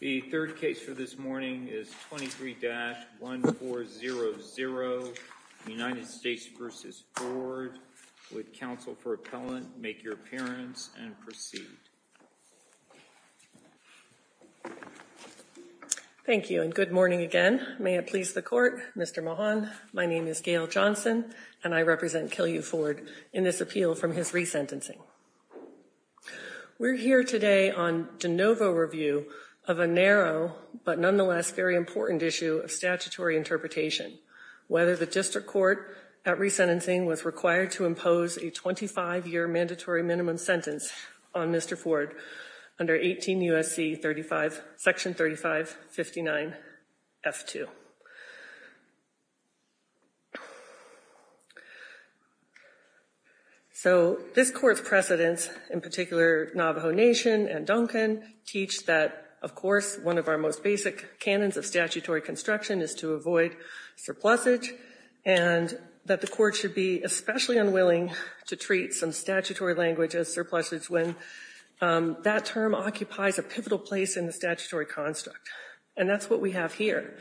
The third case for this morning is 23-1400, United States v. Ford. Would counsel for appellant make your appearance and proceed? Thank you and good morning again. May it please the court. Mr. Mahan, my name is Gayle Johnson and I represent Kill U. Ford in this appeal from his resentencing. We're here today on de novo review of a narrow but nonetheless very important issue of statutory interpretation. Whether the district court at resentencing was required to impose a 25-year mandatory minimum sentence on Mr. Ford under 18 U.S.C. section 3559 F2. So this court's precedents, in particular Navajo Nation and Duncan, teach that, of course, one of our most basic canons of statutory construction is to avoid surplusage and that the court should be especially unwilling to treat some statutory language as surplusage when that term occupies a pivotal place in the statutory construct. And that's what we have here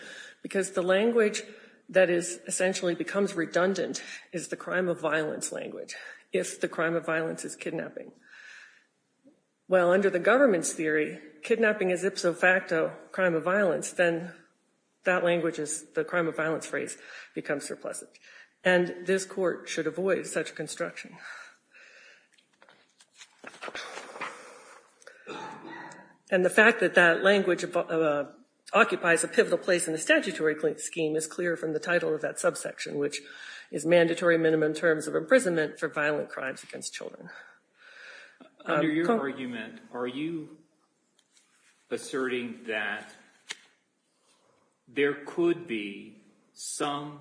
because the language that is essentially becomes redundant is the crime of violence language if the crime of violence is kidnapping. Well, under the government's theory, kidnapping is ipso facto crime of violence, then that language is the crime of violence phrase becomes surplusage. And this court should avoid such construction. And the fact that that language of occupies a pivotal place in the statutory scheme is clear from the title of that subsection, which is mandatory minimum terms of imprisonment for violent crimes against children. Under your argument, are you asserting that there could be some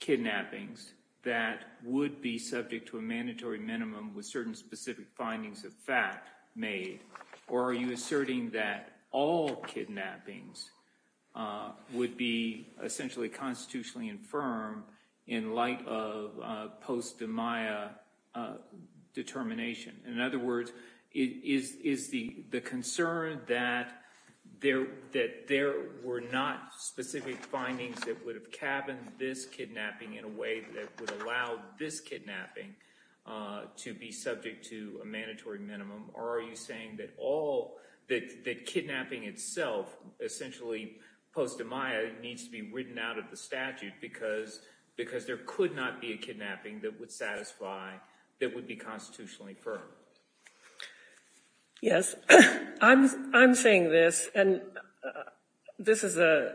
kidnappings that would be subject to a mandatory minimum with certain specific findings of fact made, or are you asserting that all kidnappings would be essentially constitutionally infirm in light of post-Demiah determination? In other words, is the concern that there were not specific findings that would have cabined this kidnapping in a way that would allow this kidnapping to be subject to a mandatory minimum? Or are you saying that kidnapping itself, essentially post-Demiah, needs to be written out of the statute because there could not be a kidnapping that would satisfy, that would be constitutionally firm? Yes, I'm saying this, and this is a,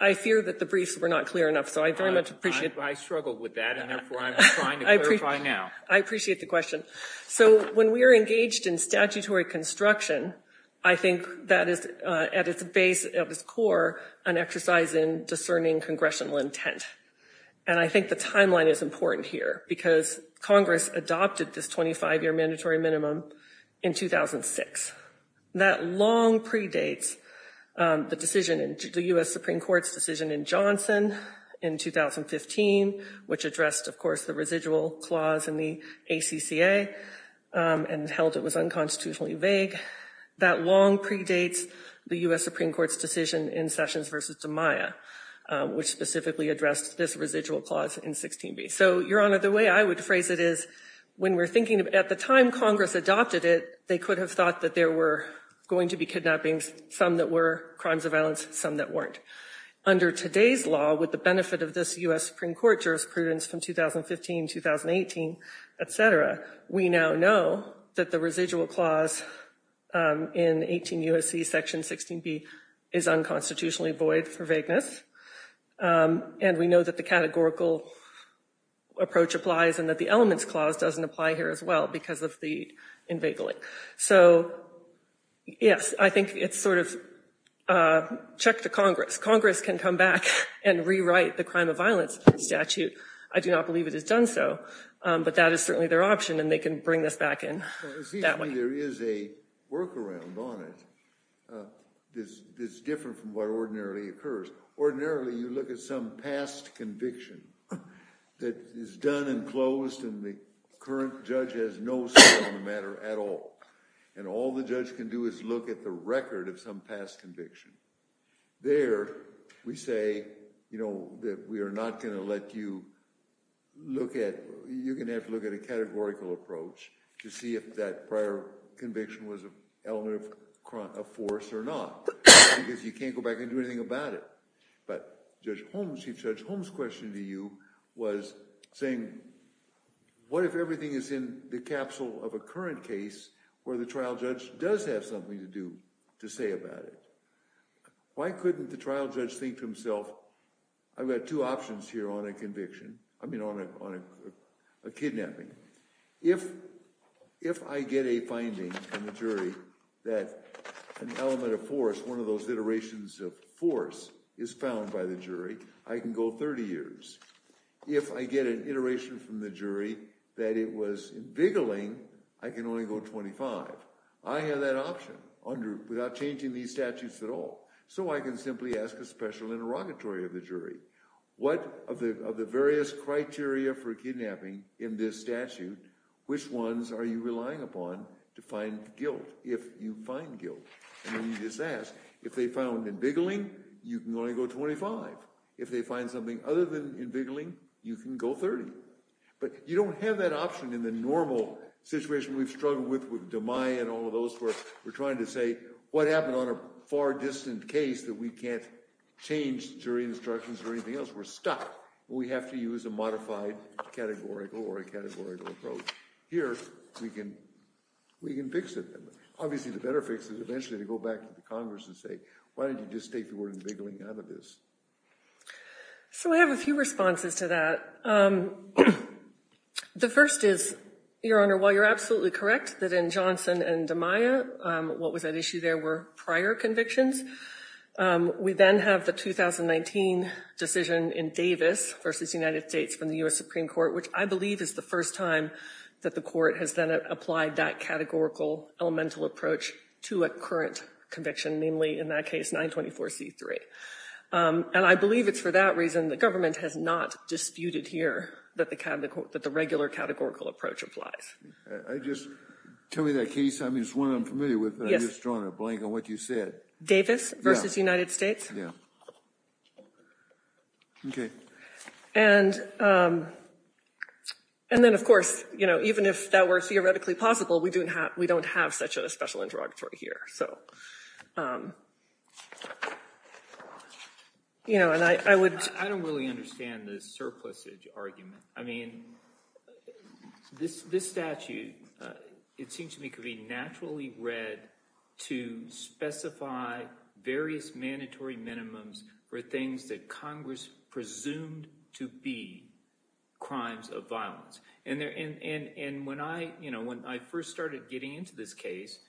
I fear that the briefs were not clear enough, so I very much appreciate... I struggled with that, and therefore I'm trying to clarify now. I appreciate the question. So, when we are engaged in statutory construction, I think that is, at its base, at its core, an exercise in discerning congressional intent. And I think the timeline is important here because Congress adopted this 25-year mandatory minimum in 2006. That long predates the decision in the U.S. Supreme Court's decision in Johnson in 2015, which addressed, of course, the residual clause in the ACCA and held it was unconstitutionally vague. That long predates the U.S. Supreme Court's decision in Sessions v. Demiah, which specifically addressed this residual clause in 16b. So, Your Honor, the way I would phrase it is, when we're thinking of, at the time Congress adopted it, they could have thought that there were going to be kidnappings, some that were crimes of violence, some that weren't. Under today's law, with the benefit of this U.S. Supreme Court jurisprudence from 2015, 2018, etc., we now know that the residual clause in 18 U.S.C. Section 16b is unconstitutionally for vagueness. And we know that the categorical approach applies and that the elements clause doesn't apply here as well because of the invagling. So, yes, I think it's sort of check to Congress. Congress can come back and rewrite the crime of violence statute. I do not believe it is done so, but that is certainly their option and they can bring this back in that way. There is a workaround on it that's different from what ordinarily occurs. Ordinarily, you look at some past conviction that is done and closed and the current judge has no say on the matter at all. And all the judge can do is look at the record of some past conviction. There, we say, you know, that we are not going to let you look at, you're going to have to look at a categorical approach to see if that prior conviction was an element of force or not because you can't go back and do anything about it. But Judge Holmes, Judge Holmes' question to you was saying, what if everything is in the capsule of a current case where the trial judge does have something to do to say about it? Why couldn't the trial judge think to himself, I've got two options here on a conviction, I mean on a kidnapping. If I get a finding from the jury that an element of force, one of those iterations of force is found by the jury, I can go 30 years. If I get an iteration from the jury that it was in biggling, I can only go 25. I have that option without changing these statutes at all. So I can simply ask a special interrogatory of the jury. What of the various criteria for kidnapping in this statute, which ones are you relying upon to find guilt, if you find guilt? And you just ask. If they found in biggling, you can only go 25. If they find something other than in biggling, you can go 30. But you don't have that option in the normal situation we've struggled with, with DeMai and all of those where we're trying to say, what happened on a far distant case that we can't change jury instructions or anything else? We're stuck. We have to use a modified categorical or a categorical approach. Here, we can fix it. Obviously, the better fix is eventually to go back to the Congress and say, why don't you just take the word in biggling out of this? So I have a few responses to that. The first is, Your Honor, while you're absolutely correct that in Johnson and DeMai, what was at issue there were prior convictions, we then have the 2019 decision in Davis versus United States from the US Supreme Court, which I believe is the first time that the court has then applied that categorical elemental approach to a current conviction, namely in that case 924c3. And I believe it's for that reason the government has not disputed here that the kind of that the regular categorical approach applies. I just, tell me that case. I mean, it's one I'm familiar with, but I'm just drawing a blank on what you said. Davis versus United States. Yeah. Okay. And then, of course, you know, even if that were theoretically possible, we don't have such a special interrogatory here. So, you know, and I would... I don't really understand the surplusage argument. I mean, this statute, it seems to me, could be naturally read to specify various mandatory minimums for things that Congress presumed to be crimes of violence. And when I first started getting into this case,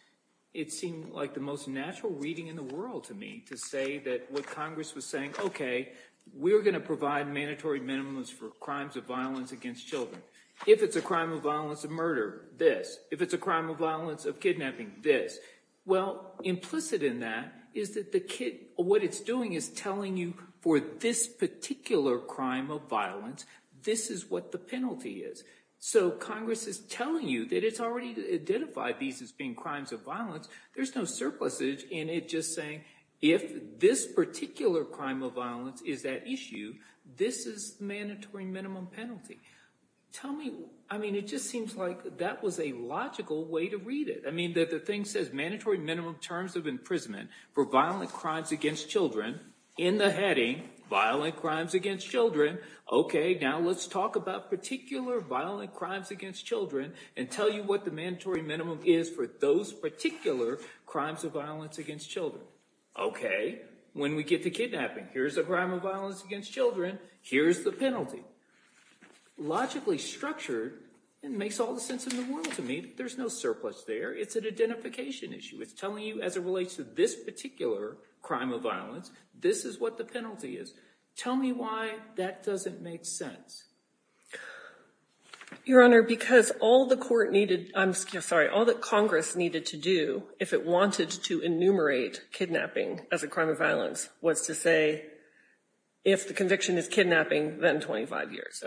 it seemed like the most natural reading in the world to me to say that what Congress was saying, okay, we're going to provide mandatory minimums for crimes of violence against children. If it's a crime of violence of murder, this. If it's a crime of violence of kidnapping, this. Well, implicit in that is that the kid, what it's doing is telling you for this particular crime of violence, this is what the penalty is. So Congress is telling you that it's already identified these as being crimes of violence. There's no surplusage in it just saying, if this particular crime of violence is that issue, this is mandatory minimum penalty. Tell me, I mean, it just seems like that was a logical way to read it. I mean, that the thing says mandatory minimum terms of imprisonment for violent crimes against children in the heading, violent crimes against children. Okay. Now let's talk about particular violent crimes against children and tell you what the mandatory minimum is for those particular crimes of violence against children. Okay. When we get to kidnapping, here's a crime of violence against children. Here's the penalty. Logically structured, it makes all the sense in the world to me. There's no surplus there. It's an identification issue. It's telling you as it relates to this particular crime of violence, this is what the penalty is. Tell me why that doesn't make sense. Your Honor, because all the court needed, I'm sorry, all that Congress needed to do if it wanted to enumerate kidnapping as a crime of violence was to say, if the conviction is kidnapping, then 25 years.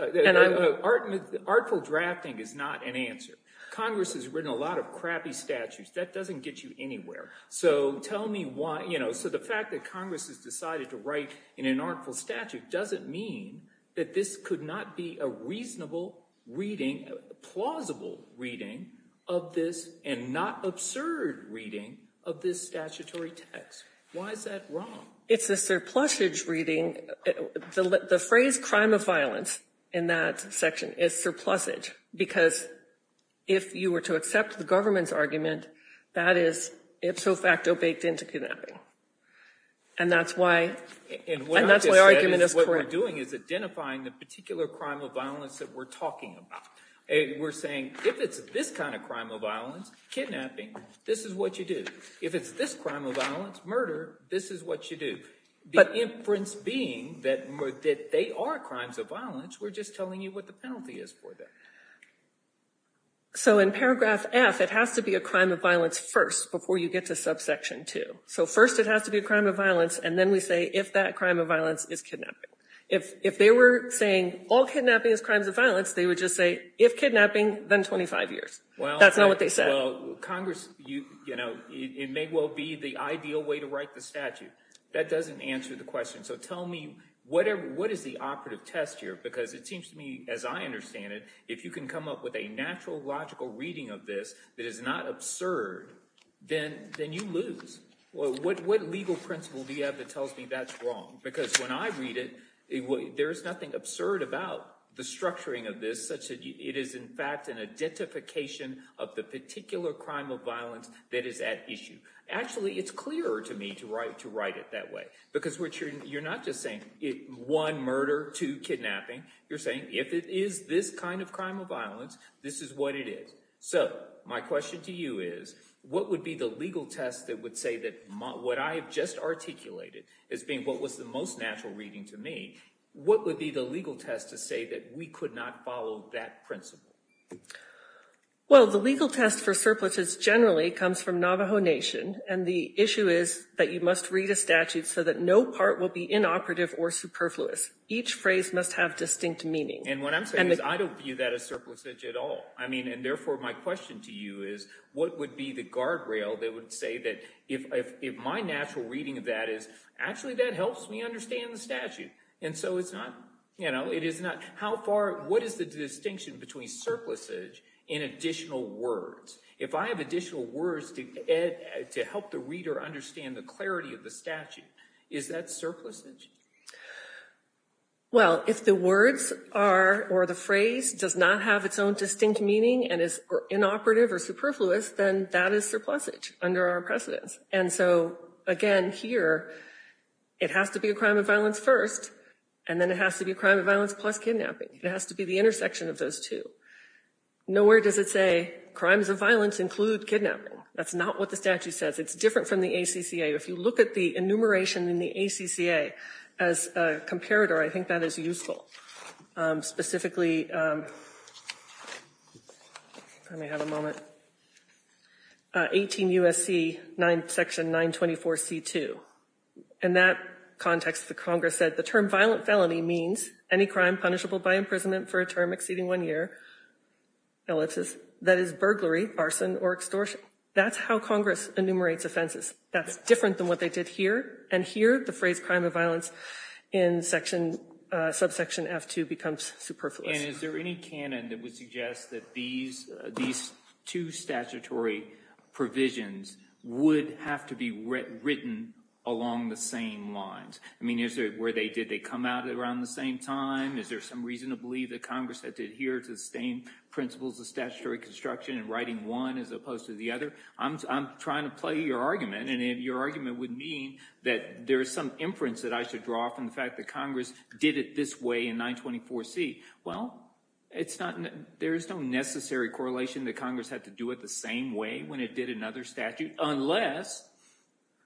Artful drafting is not an answer. Congress has written a lot of crappy statutes. That doesn't get you anywhere. So tell me why, you know, so the fact that Congress has decided to write in an artful statute doesn't mean that this could not be a reasonable reading, plausible reading of this and not absurd reading of this statutory text. Why is that wrong? It's a surplusage reading. The phrase crime of violence in that section is surplusage because if you were to accept the government's argument, that is ipso facto baked into kidnapping. And that's why argument is correct. What we're doing is identifying the particular crime of violence that we're talking about. We're saying if it's this kind of crime of violence, kidnapping, this is what you do. If it's this crime of violence, murder, this is what you do. The inference being that they are crimes of violence, we're just telling you what the penalty is for them. So in paragraph F, it has to be a crime of violence first before you get to subsection 2. So first it has to be a crime of violence and then we say if that crime of violence is kidnapping. If they were saying all kidnapping is crimes of violence, they would just say if kidnapping, then 25 years. That's not what they said. Congress, it may well be the ideal way to write the statute. That doesn't answer the question. So tell me, what is the operative test here? Because it seems to me, as I understand it, if you can come up with a natural logical reading of this that is not absurd, then you lose. What legal principle do you have that tells me that's wrong? Because when I read it, there's nothing absurd about the structuring of this, such that it is in fact an identification of the particular crime of violence that is at issue. Actually, it's clearer to me to write it that way. Because you're not just saying one murder, two kidnapping. You're saying if it is this kind of crime of violence, this is what it is. So my question to you is, what would be the legal test that would say that what I have just articulated as being what was the most natural reading to me, what would be the legal test to say that we could not follow that principle? Well, the legal test for surpluses generally comes from Navajo Nation. And the issue is that you must read a statute so that no part will be inoperative or superfluous. Each phrase must have distinct meaning. And what I'm saying is I don't view that as surplusage at all. I mean, and therefore, my question to you is, what would be the guardrail that would say that if my natural reading of that is actually that helps me understand the statute? And so it's not, you know, it is not. How far, what is the distinction between surplusage and additional words? If I have additional words to help the reader understand the clarity of the statute, is that surplusage? Well, if the words are, or the phrase does not have its own distinct meaning and is inoperative or superfluous, then that is surplusage under our precedence. And so again, here, it has to be a crime of violence first, and then it has to be a crime of violence plus kidnapping. It has to be the intersection of those two. Nowhere does it say crimes of violence include kidnapping. That's not what the statute says. It's different from the ACCA. If you look at the enumeration in the ACCA as a comparator, I think that is useful. Specifically, I may have a moment, 18 U.S.C. section 924C2. In that context, the Congress said the term violent felony means any crime punishable by imprisonment for a term exceeding one year, that is burglary, arson, or extortion. That's how Congress enumerates offenses. That's different than what they did here. And here, the phrase crime of violence in section, subsection F2 becomes superfluous. And is there any canon that would suggest that these two statutory provisions would have to be written along the same lines? I mean, is it where they did they come out around the same time? Is there some reason to believe that Congress had to adhere to the same principles of statutory construction and writing one as opposed to the other? I'm trying to play your argument. And if your argument would mean that there is some inference that I should draw from the fact that Congress did it this way in 924C, well, there's no necessary correlation that Congress had to do it the same way when it did another statute, unless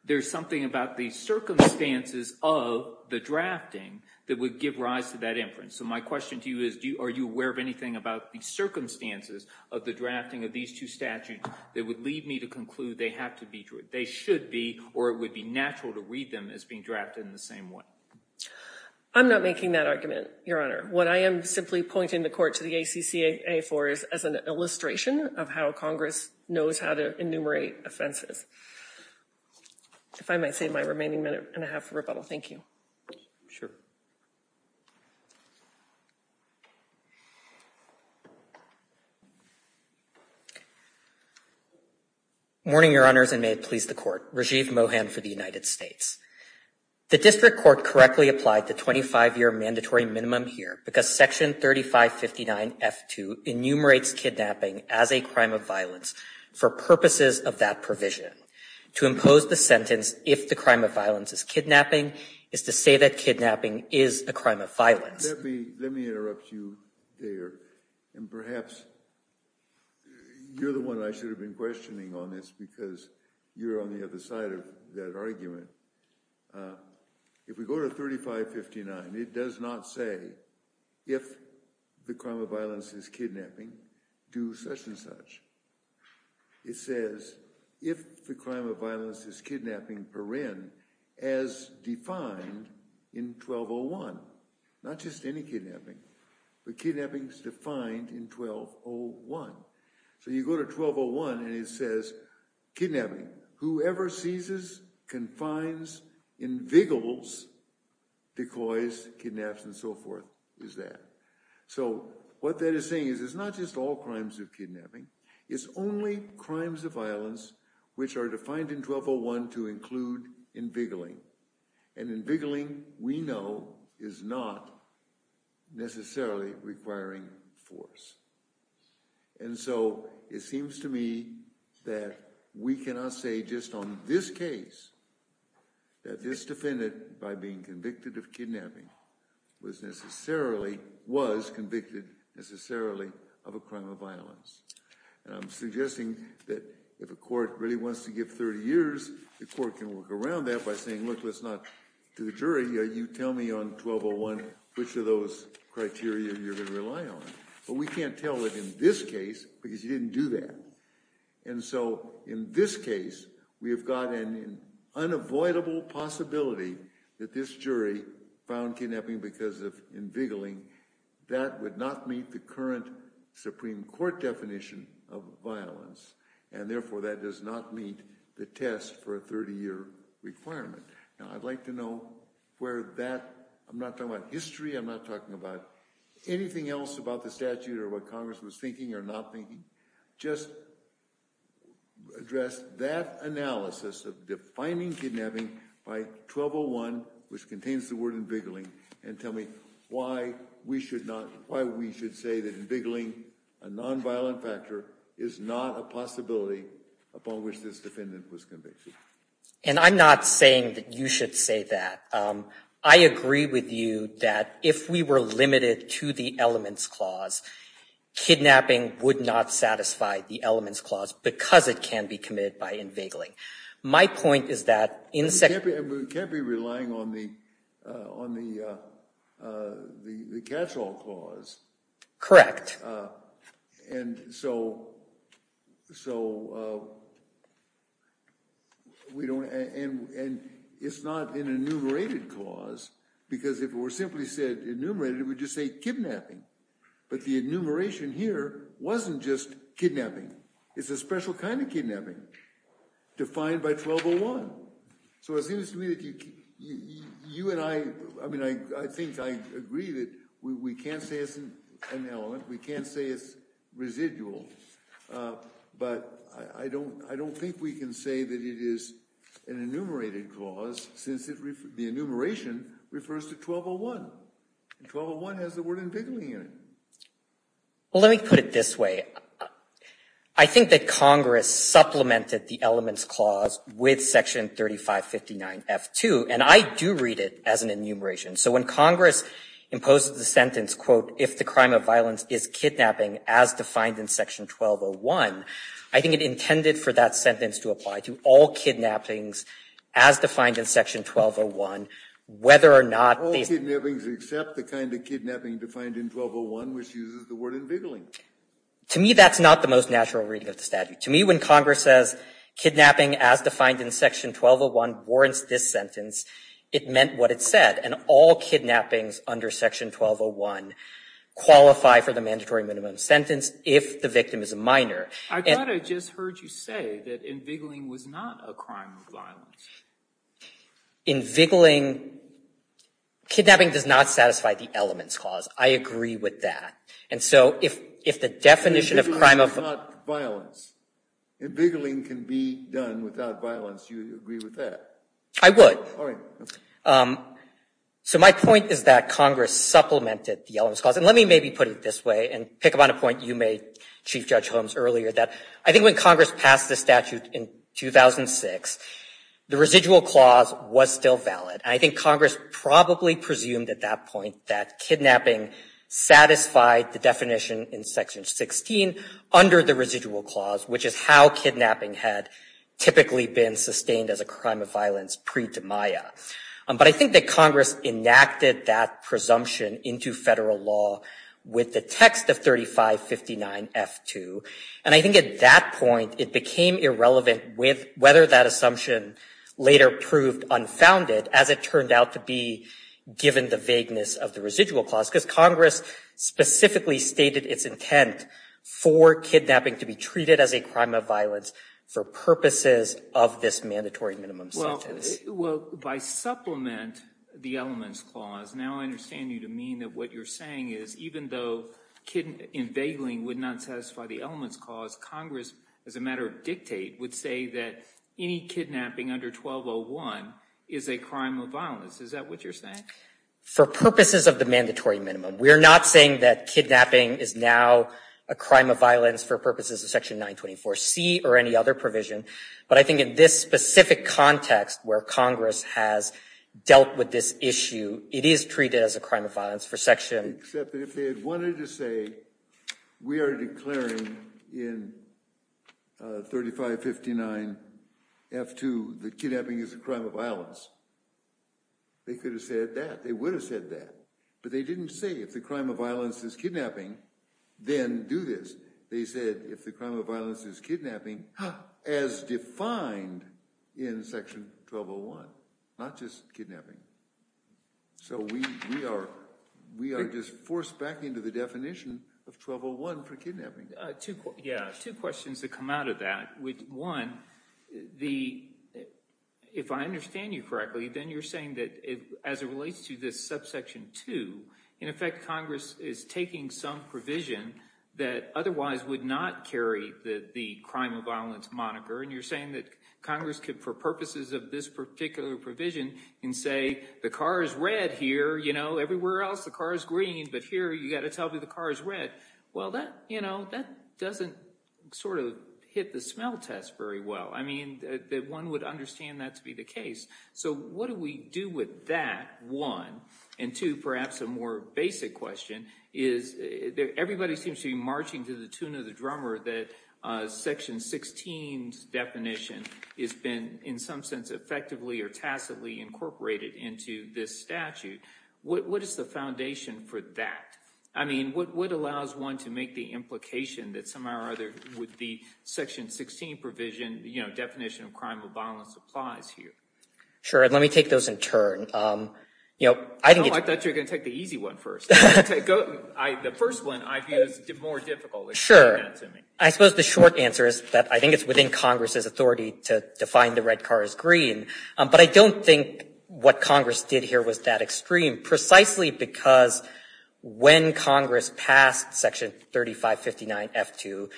there's something about the circumstances of the drafting that would give rise to that inference. So my question to you is, are you aware of anything about the circumstances of the drafting of these two statutes that would lead me to conclude they have to be, they should be, or it would be natural to read them as being one? I'm not making that argument, Your Honor. What I am simply pointing the court to the ACCA for is as an illustration of how Congress knows how to enumerate offenses. If I might save my remaining minute and a half for rebuttal. Thank you. Sure. Morning, Your Honors, and may it please the Court. Rajiv Mohan for the United States. The district court correctly applied the 25-year mandatory minimum here because Section 3559F2 enumerates kidnapping as a crime of violence for purposes of that provision. To impose the sentence, if the crime of violence is kidnapping, is to say that kidnapping is a crime of violence. Let me interrupt you there, and perhaps you're the one I should have been questioning on this because you're on the other side of that argument. If we go to 3559, it does not say, if the crime of violence is kidnapping, do such and such. It says, if the crime of violence is kidnapping, as defined in 1201, not just any kidnapping, but kidnappings defined in 1201. So you go to 1201, and it says kidnapping. Whoever seizes, confines, invigilates, decoys, kidnaps, and so forth is that. So what that is saying is it's not just all crimes of kidnapping. It's only crimes of violence which are defined in 1201 to include invigilating, and invigilating, we know, is not necessarily requiring force. And so it seems to me that we cannot say just on this case that this defendant, by being convicted of kidnapping, was necessarily, was convicted necessarily of a crime of violence. I'm suggesting that if a court really wants to give 30 years, the court can work around that by saying, look, let's not do the jury. You tell me on 1201 which of those criteria you're going to rely on. But we can't tell it in this case because you didn't do that. And so in this case, we have got an unavoidable possibility that this jury found kidnapping because of invigilating. That would not meet the current Supreme Court definition of violence, and therefore that does not meet the test for a 30-year requirement. Now I'd like to know where that, I'm not talking about history, I'm not talking about anything else about the statute or what Congress was thinking or not thinking, just address that analysis of defining kidnapping by 1201, which contains the word invigilating, and tell me why we should not, why we should say that invigilating a nonviolent factor is not a possibility upon which this defendant was convicted. And I'm not saying that you should say that. I agree with you that if we were limited to the elements clause, kidnapping would not satisfy the elements clause because it can be committed by invigilating. My point is that in— We can't be relying on the catch-all clause. Correct. And so, and it's not an enumerated clause because if it were simply said enumerated, it would just say kidnapping. But the enumeration here wasn't just kidnapping. It's a special kind of kidnapping. Defined by 1201. So it seems to me that you and I, I mean, I think I agree that we can't say it's an element. We can't say it's residual. But I don't think we can say that it is an enumerated clause since the enumeration refers to 1201. And 1201 has the word invigilating in it. Well, let me put it this way. I think that Congress supplemented the elements clause with section 3559F2, and I do read it as an enumeration. So when Congress imposed the sentence, quote, if the crime of violence is kidnapping as defined in section 1201, I think it intended for that sentence to apply to all kidnappings as defined in section 1201, whether or not the— All kidnappings except the kind of kidnapping defined in 1201, which uses the word invigilating. To me, that's not the most natural reading of the statute. To me, when Congress says kidnapping as defined in section 1201 warrants this sentence, it meant what it said. And all kidnappings under section 1201 qualify for the mandatory minimum sentence if the victim is a minor. I thought I just heard you say that invigilating was not a crime of violence. Invigilating—kidnapping does not satisfy the elements clause. I agree with that. And so if the definition of crime of— Invigilating is not violence. Invigilating can be done without violence. Do you agree with that? I would. All right. So my point is that Congress supplemented the elements clause. And let me maybe put it this way and pick up on a point you made, Chief Judge Holmes, earlier that I think when Congress passed the statute in 2006, the residual clause was still valid. I think Congress probably presumed at that point that kidnapping satisfied the definition in section 16 under the residual clause, which is how kidnapping had typically been sustained as a crime of violence pre-Demiah. But I think that Congress enacted that presumption into federal law with the text of 3559-F2. And I think at that point, it became irrelevant whether that assumption later proved unfounded as it turned out to be given the vagueness of the residual clause, because Congress specifically stated its intent for kidnapping to be treated as a crime of violence for purposes of this mandatory minimum sentence. Well, by supplement the elements clause, now I understand you to mean that what you're saying is even though in vaguely would not satisfy the elements clause, Congress, as a matter of dictate, would say that any kidnapping under 1201 is a crime of violence. Is that what you're saying? For purposes of the mandatory minimum, we're not saying that kidnapping is now a crime of violence for purposes of section 924C or any other provision. But I think in this specific context where Congress has dealt with this issue, it is treated as a crime of violence for section... Except that if they had wanted to say, we are declaring in 3559-F2 that kidnapping is a crime of violence, they could have said that. They would have said that. But they didn't say if the crime of violence is kidnapping, then do this. They said if the crime of violence is kidnapping, as defined in section 1201, not just kidnapping. So we are just forced back into the definition of 1201 for kidnapping. Yeah, two questions that come out of that. One, if I understand you correctly, then you're saying that as it relates to this subsection 2, in effect, Congress is taking some provision that otherwise would not carry the crime of violence moniker. And you're saying that Congress could, for purposes of this particular provision, can say, the car is red here. Everywhere else, the car is green. But here, you got to tell me the car is red. Well, that doesn't hit the smell test very well. One would understand that to be the case. So what do we do with that, one? And two, perhaps a more basic question, is everybody seems to be marching to the tune of the drummer that section 16's definition has been, in some sense, effectively or tacitly incorporated into this statute. What is the foundation for that? I mean, what allows one to make the implication that somehow or other would the section 16 definition of crime of violence applies here? Sure. And let me take those in turn. Oh, I thought you were going to take the easy one first. The first one I view as more difficult. Sure. I suppose the short answer is that I think it's within Congress's authority to define the red car as green. But I don't think what Congress did here was that extreme, precisely because when Congress passed section 3559F2,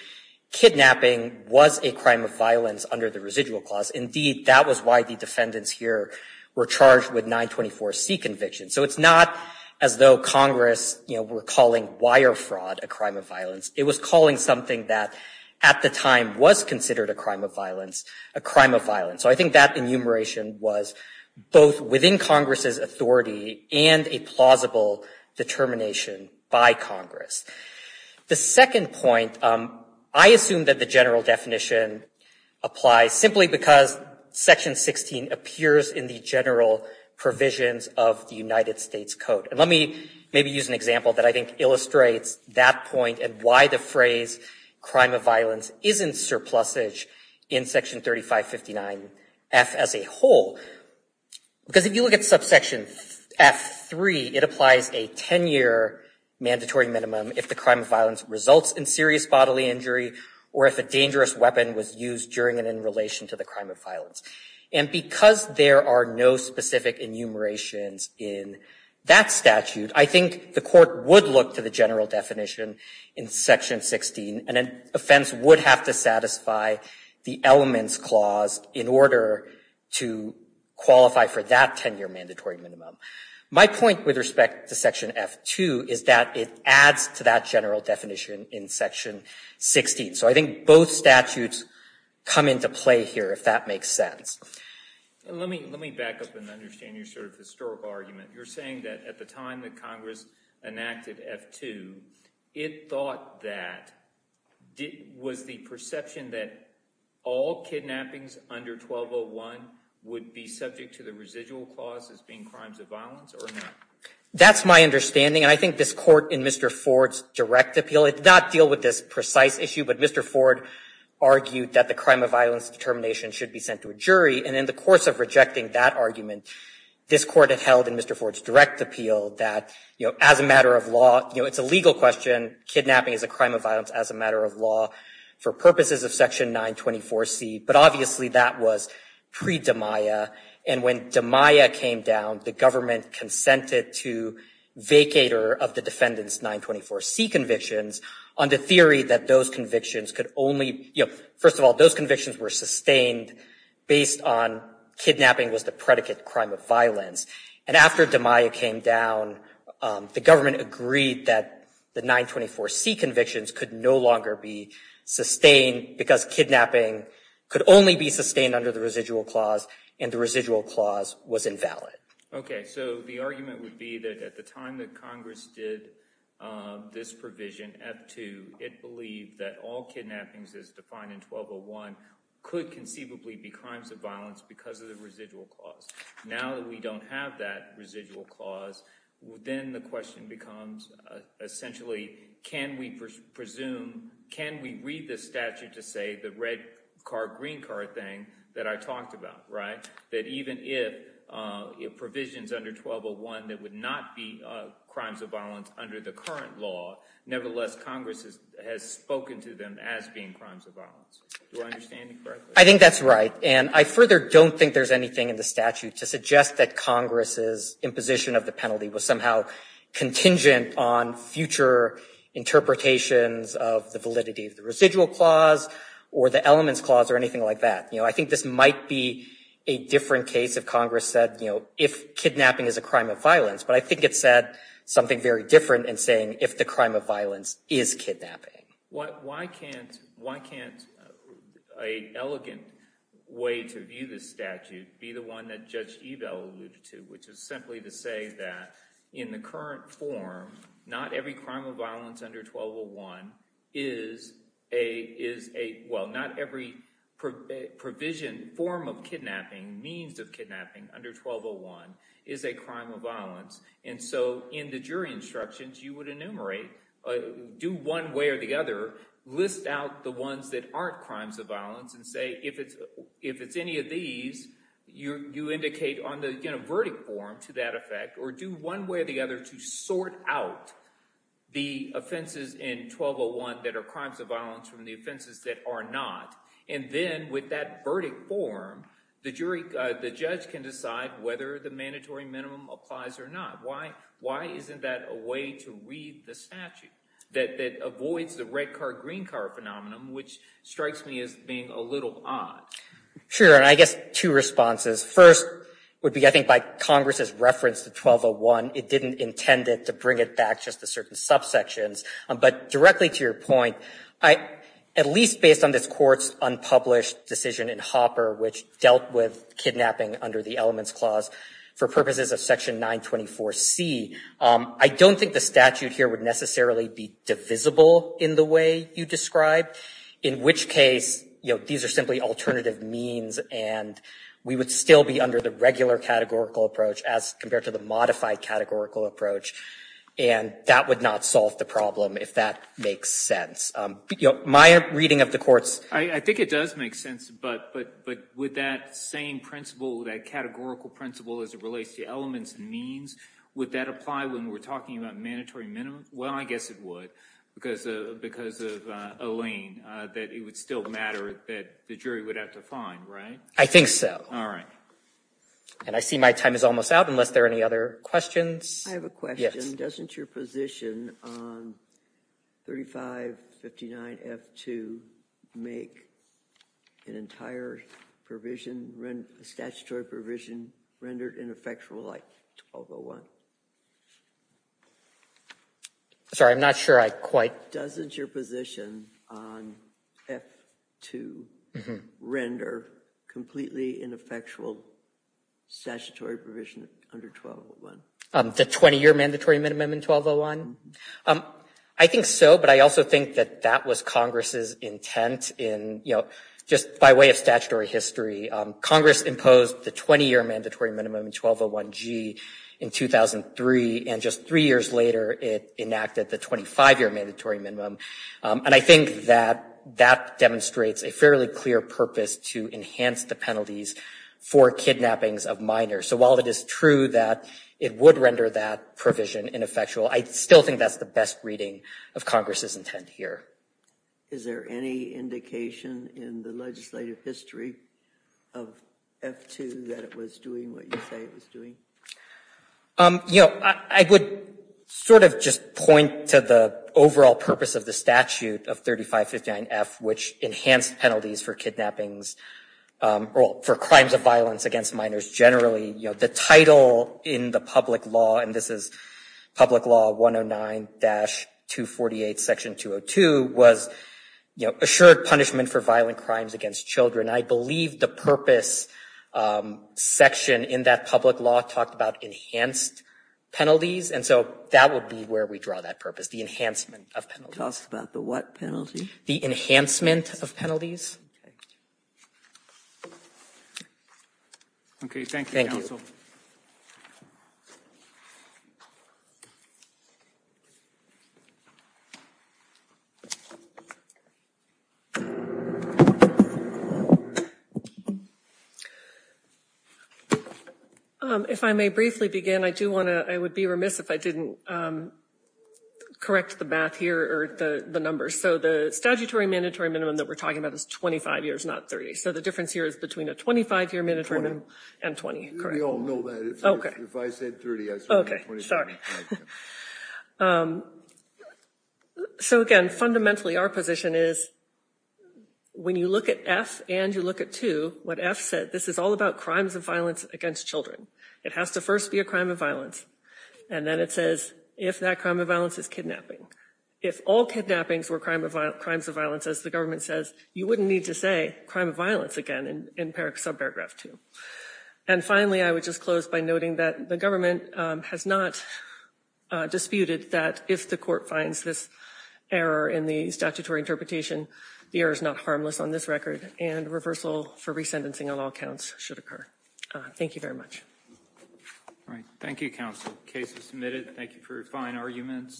kidnapping was a crime of violence under the residual clause. Indeed, that was why the defendants here were charged with 924C convictions. So it's not as though Congress were calling wire fraud a crime of violence. It was calling something that at the time was considered a crime of violence a crime of violence. So I think that was both within Congress's authority and a plausible determination by Congress. The second point, I assume that the general definition applies simply because section 16 appears in the general provisions of the United States Code. And let me maybe use an example that I think illustrates that point and why the phrase crime of violence isn't surplusage in section 3559F as a whole. Because if you look at subsection F3, it applies a 10-year mandatory minimum if the crime of violence results in serious bodily injury or if a dangerous weapon was used during and in relation to the crime of violence. And because there are no specific enumerations in that statute, I think the court would look to the general definition in section 16, and an offense would have to satisfy the elements clause in order to qualify for that 10-year mandatory minimum. My point with respect to section F2 is that it adds to that general definition in section 16. So I think both statutes come into play here, if that makes sense. And let me back up and understand your sort of historical argument. You're saying that at the time of that, was the perception that all kidnappings under 1201 would be subject to the residual clause as being crimes of violence or not? That's my understanding. I think this court in Mr. Ford's direct appeal did not deal with this precise issue. But Mr. Ford argued that the crime of violence determination should be sent to a jury. And in the course of rejecting that argument, this court had held in Mr. Ford's direct appeal that, you know, as a matter of law, it's a legal question. Kidnapping is a crime of violence as a matter of law for purposes of section 924C. But obviously, that was pre-Demiah. And when Demiah came down, the government consented to vacator of the defendant's 924C convictions on the theory that those convictions could only, you know, first of all, those convictions were sustained based on kidnapping was the predicate crime of violence. And after Demiah came down, the government agreed that the 924C convictions could no longer be sustained because kidnapping could only be sustained under the residual clause and the residual clause was invalid. Okay. So the argument would be that at the time that Congress did this provision, F-2, it believed that all kidnappings as defined in 1201 could conceivably be crimes of violence because of that residual clause. Then the question becomes essentially, can we presume, can we read the statute to say the red card, green card thing that I talked about, right? That even if provisions under 1201 that would not be crimes of violence under the current law, nevertheless, Congress has spoken to them as being crimes of violence. Do I understand you correctly? I think that's right. And I further don't think there's anything in the statute to suggest that Congress's imposition of the penalty was somehow contingent on future interpretations of the validity of the residual clause or the elements clause or anything like that. You know, I think this might be a different case if Congress said, you know, if kidnapping is a crime of violence, but I think it said something very different in saying if the crime of violence is kidnapping. Why can't an elegant way to view this statute be the one that Judge Ebel alluded to, which is simply to say that in the current form, not every crime of violence under 1201 is a, well, not every provision, form of kidnapping, means of kidnapping under 1201 is a crime of violence. And so in the instructions, you would enumerate, do one way or the other, list out the ones that aren't crimes of violence and say, if it's any of these, you indicate on the verdict form to that effect, or do one way or the other to sort out the offenses in 1201 that are crimes of violence from the offenses that are not. And then with that verdict form, the judge can decide whether the mandatory minimum applies or not. Why isn't that a way to read the statute that avoids the red car, green car phenomenon, which strikes me as being a little odd? Sure, and I guess two responses. First would be, I think by Congress's reference to 1201, it didn't intend it to bring it back just to certain subsections, but directly to your point, at least based on this Court's unpublished decision in Hopper, which dealt with kidnapping under the Elements Clause for purposes of Section 924C. I don't think the statute here would necessarily be divisible in the way you describe, in which case, you know, these are simply alternative means, and we would still be under the regular categorical approach as compared to the modified categorical approach. And that would not solve the problem, if that makes sense. You know, my reading of the Court's I think it does make sense, but with that same principle, that categorical principle as it relates to elements and means, would that apply when we're talking about mandatory minimum? Well, I guess it would, because of Elaine, that it would still matter that the jury would have to find, right? I think so. All right. And I see my time is almost out, unless there are any other questions. I have a question. Doesn't your position on 3559F2 make an entire provision, a statutory provision, rendered ineffectual like 1201? Sorry, I'm not sure I quite— Doesn't your position on F2 render completely ineffectual statutory provision under 1201? The 20-year mandatory minimum in 1201? I think so, but I also think that that was Congress's intent in, you know, just by way of statutory history. Congress imposed the 20-year mandatory minimum in 1201g in 2003, and just three years later, it enacted the 25-year mandatory minimum. And I think that that demonstrates a fairly clear purpose to enhance the penalties for kidnappings of minors. So while it is true that it would render that provision ineffectual, I still think that's the best reading of Congress's intent here. Is there any indication in the legislative history of F2 that it was doing what you say it was doing? You know, I would sort of just point to the overall purpose of the statute of 3559F, which enhanced penalties for kidnappings, or for crimes of violence against minors generally. You know, the title in the public law, and this is Public Law 109-248, Section 202, was, you know, assured punishment for violent crimes against children. I believe the purpose section in that public law talked about enhanced penalties, and so that would be where we draw that purpose, the enhancement of penalties. Talks about the what penalty? The enhancement of penalties. Okay, thank you, counsel. If I may briefly begin, I do want to, I would be remiss if I didn't correct the math here, or the numbers. So the statutory mandatory minimum that we're talking about is 25 years, not 30. So the difference here is between a 25-year mandatory minimum and 20. We all know that. If I said 30, I said 25. Okay, sorry. So again, fundamentally, our position is, when you look at F and you look at 2, what F said, this is all about crimes of violence against children. It has to first be a crime of violence, and then it says if that crime of violence is kidnapping. If all kidnappings were crimes of violence, as the government says, you wouldn't need to say crime of violence again in paragraph 2. And finally, I would just close by noting that the government has not disputed that if the court finds this error in the statutory interpretation, the error is not harmless on this record, and reversal for re-sentencing on all counts should occur. Thank you very much. All right. Thank you, counsel. Case is submitted. Thank you for your fine arguments.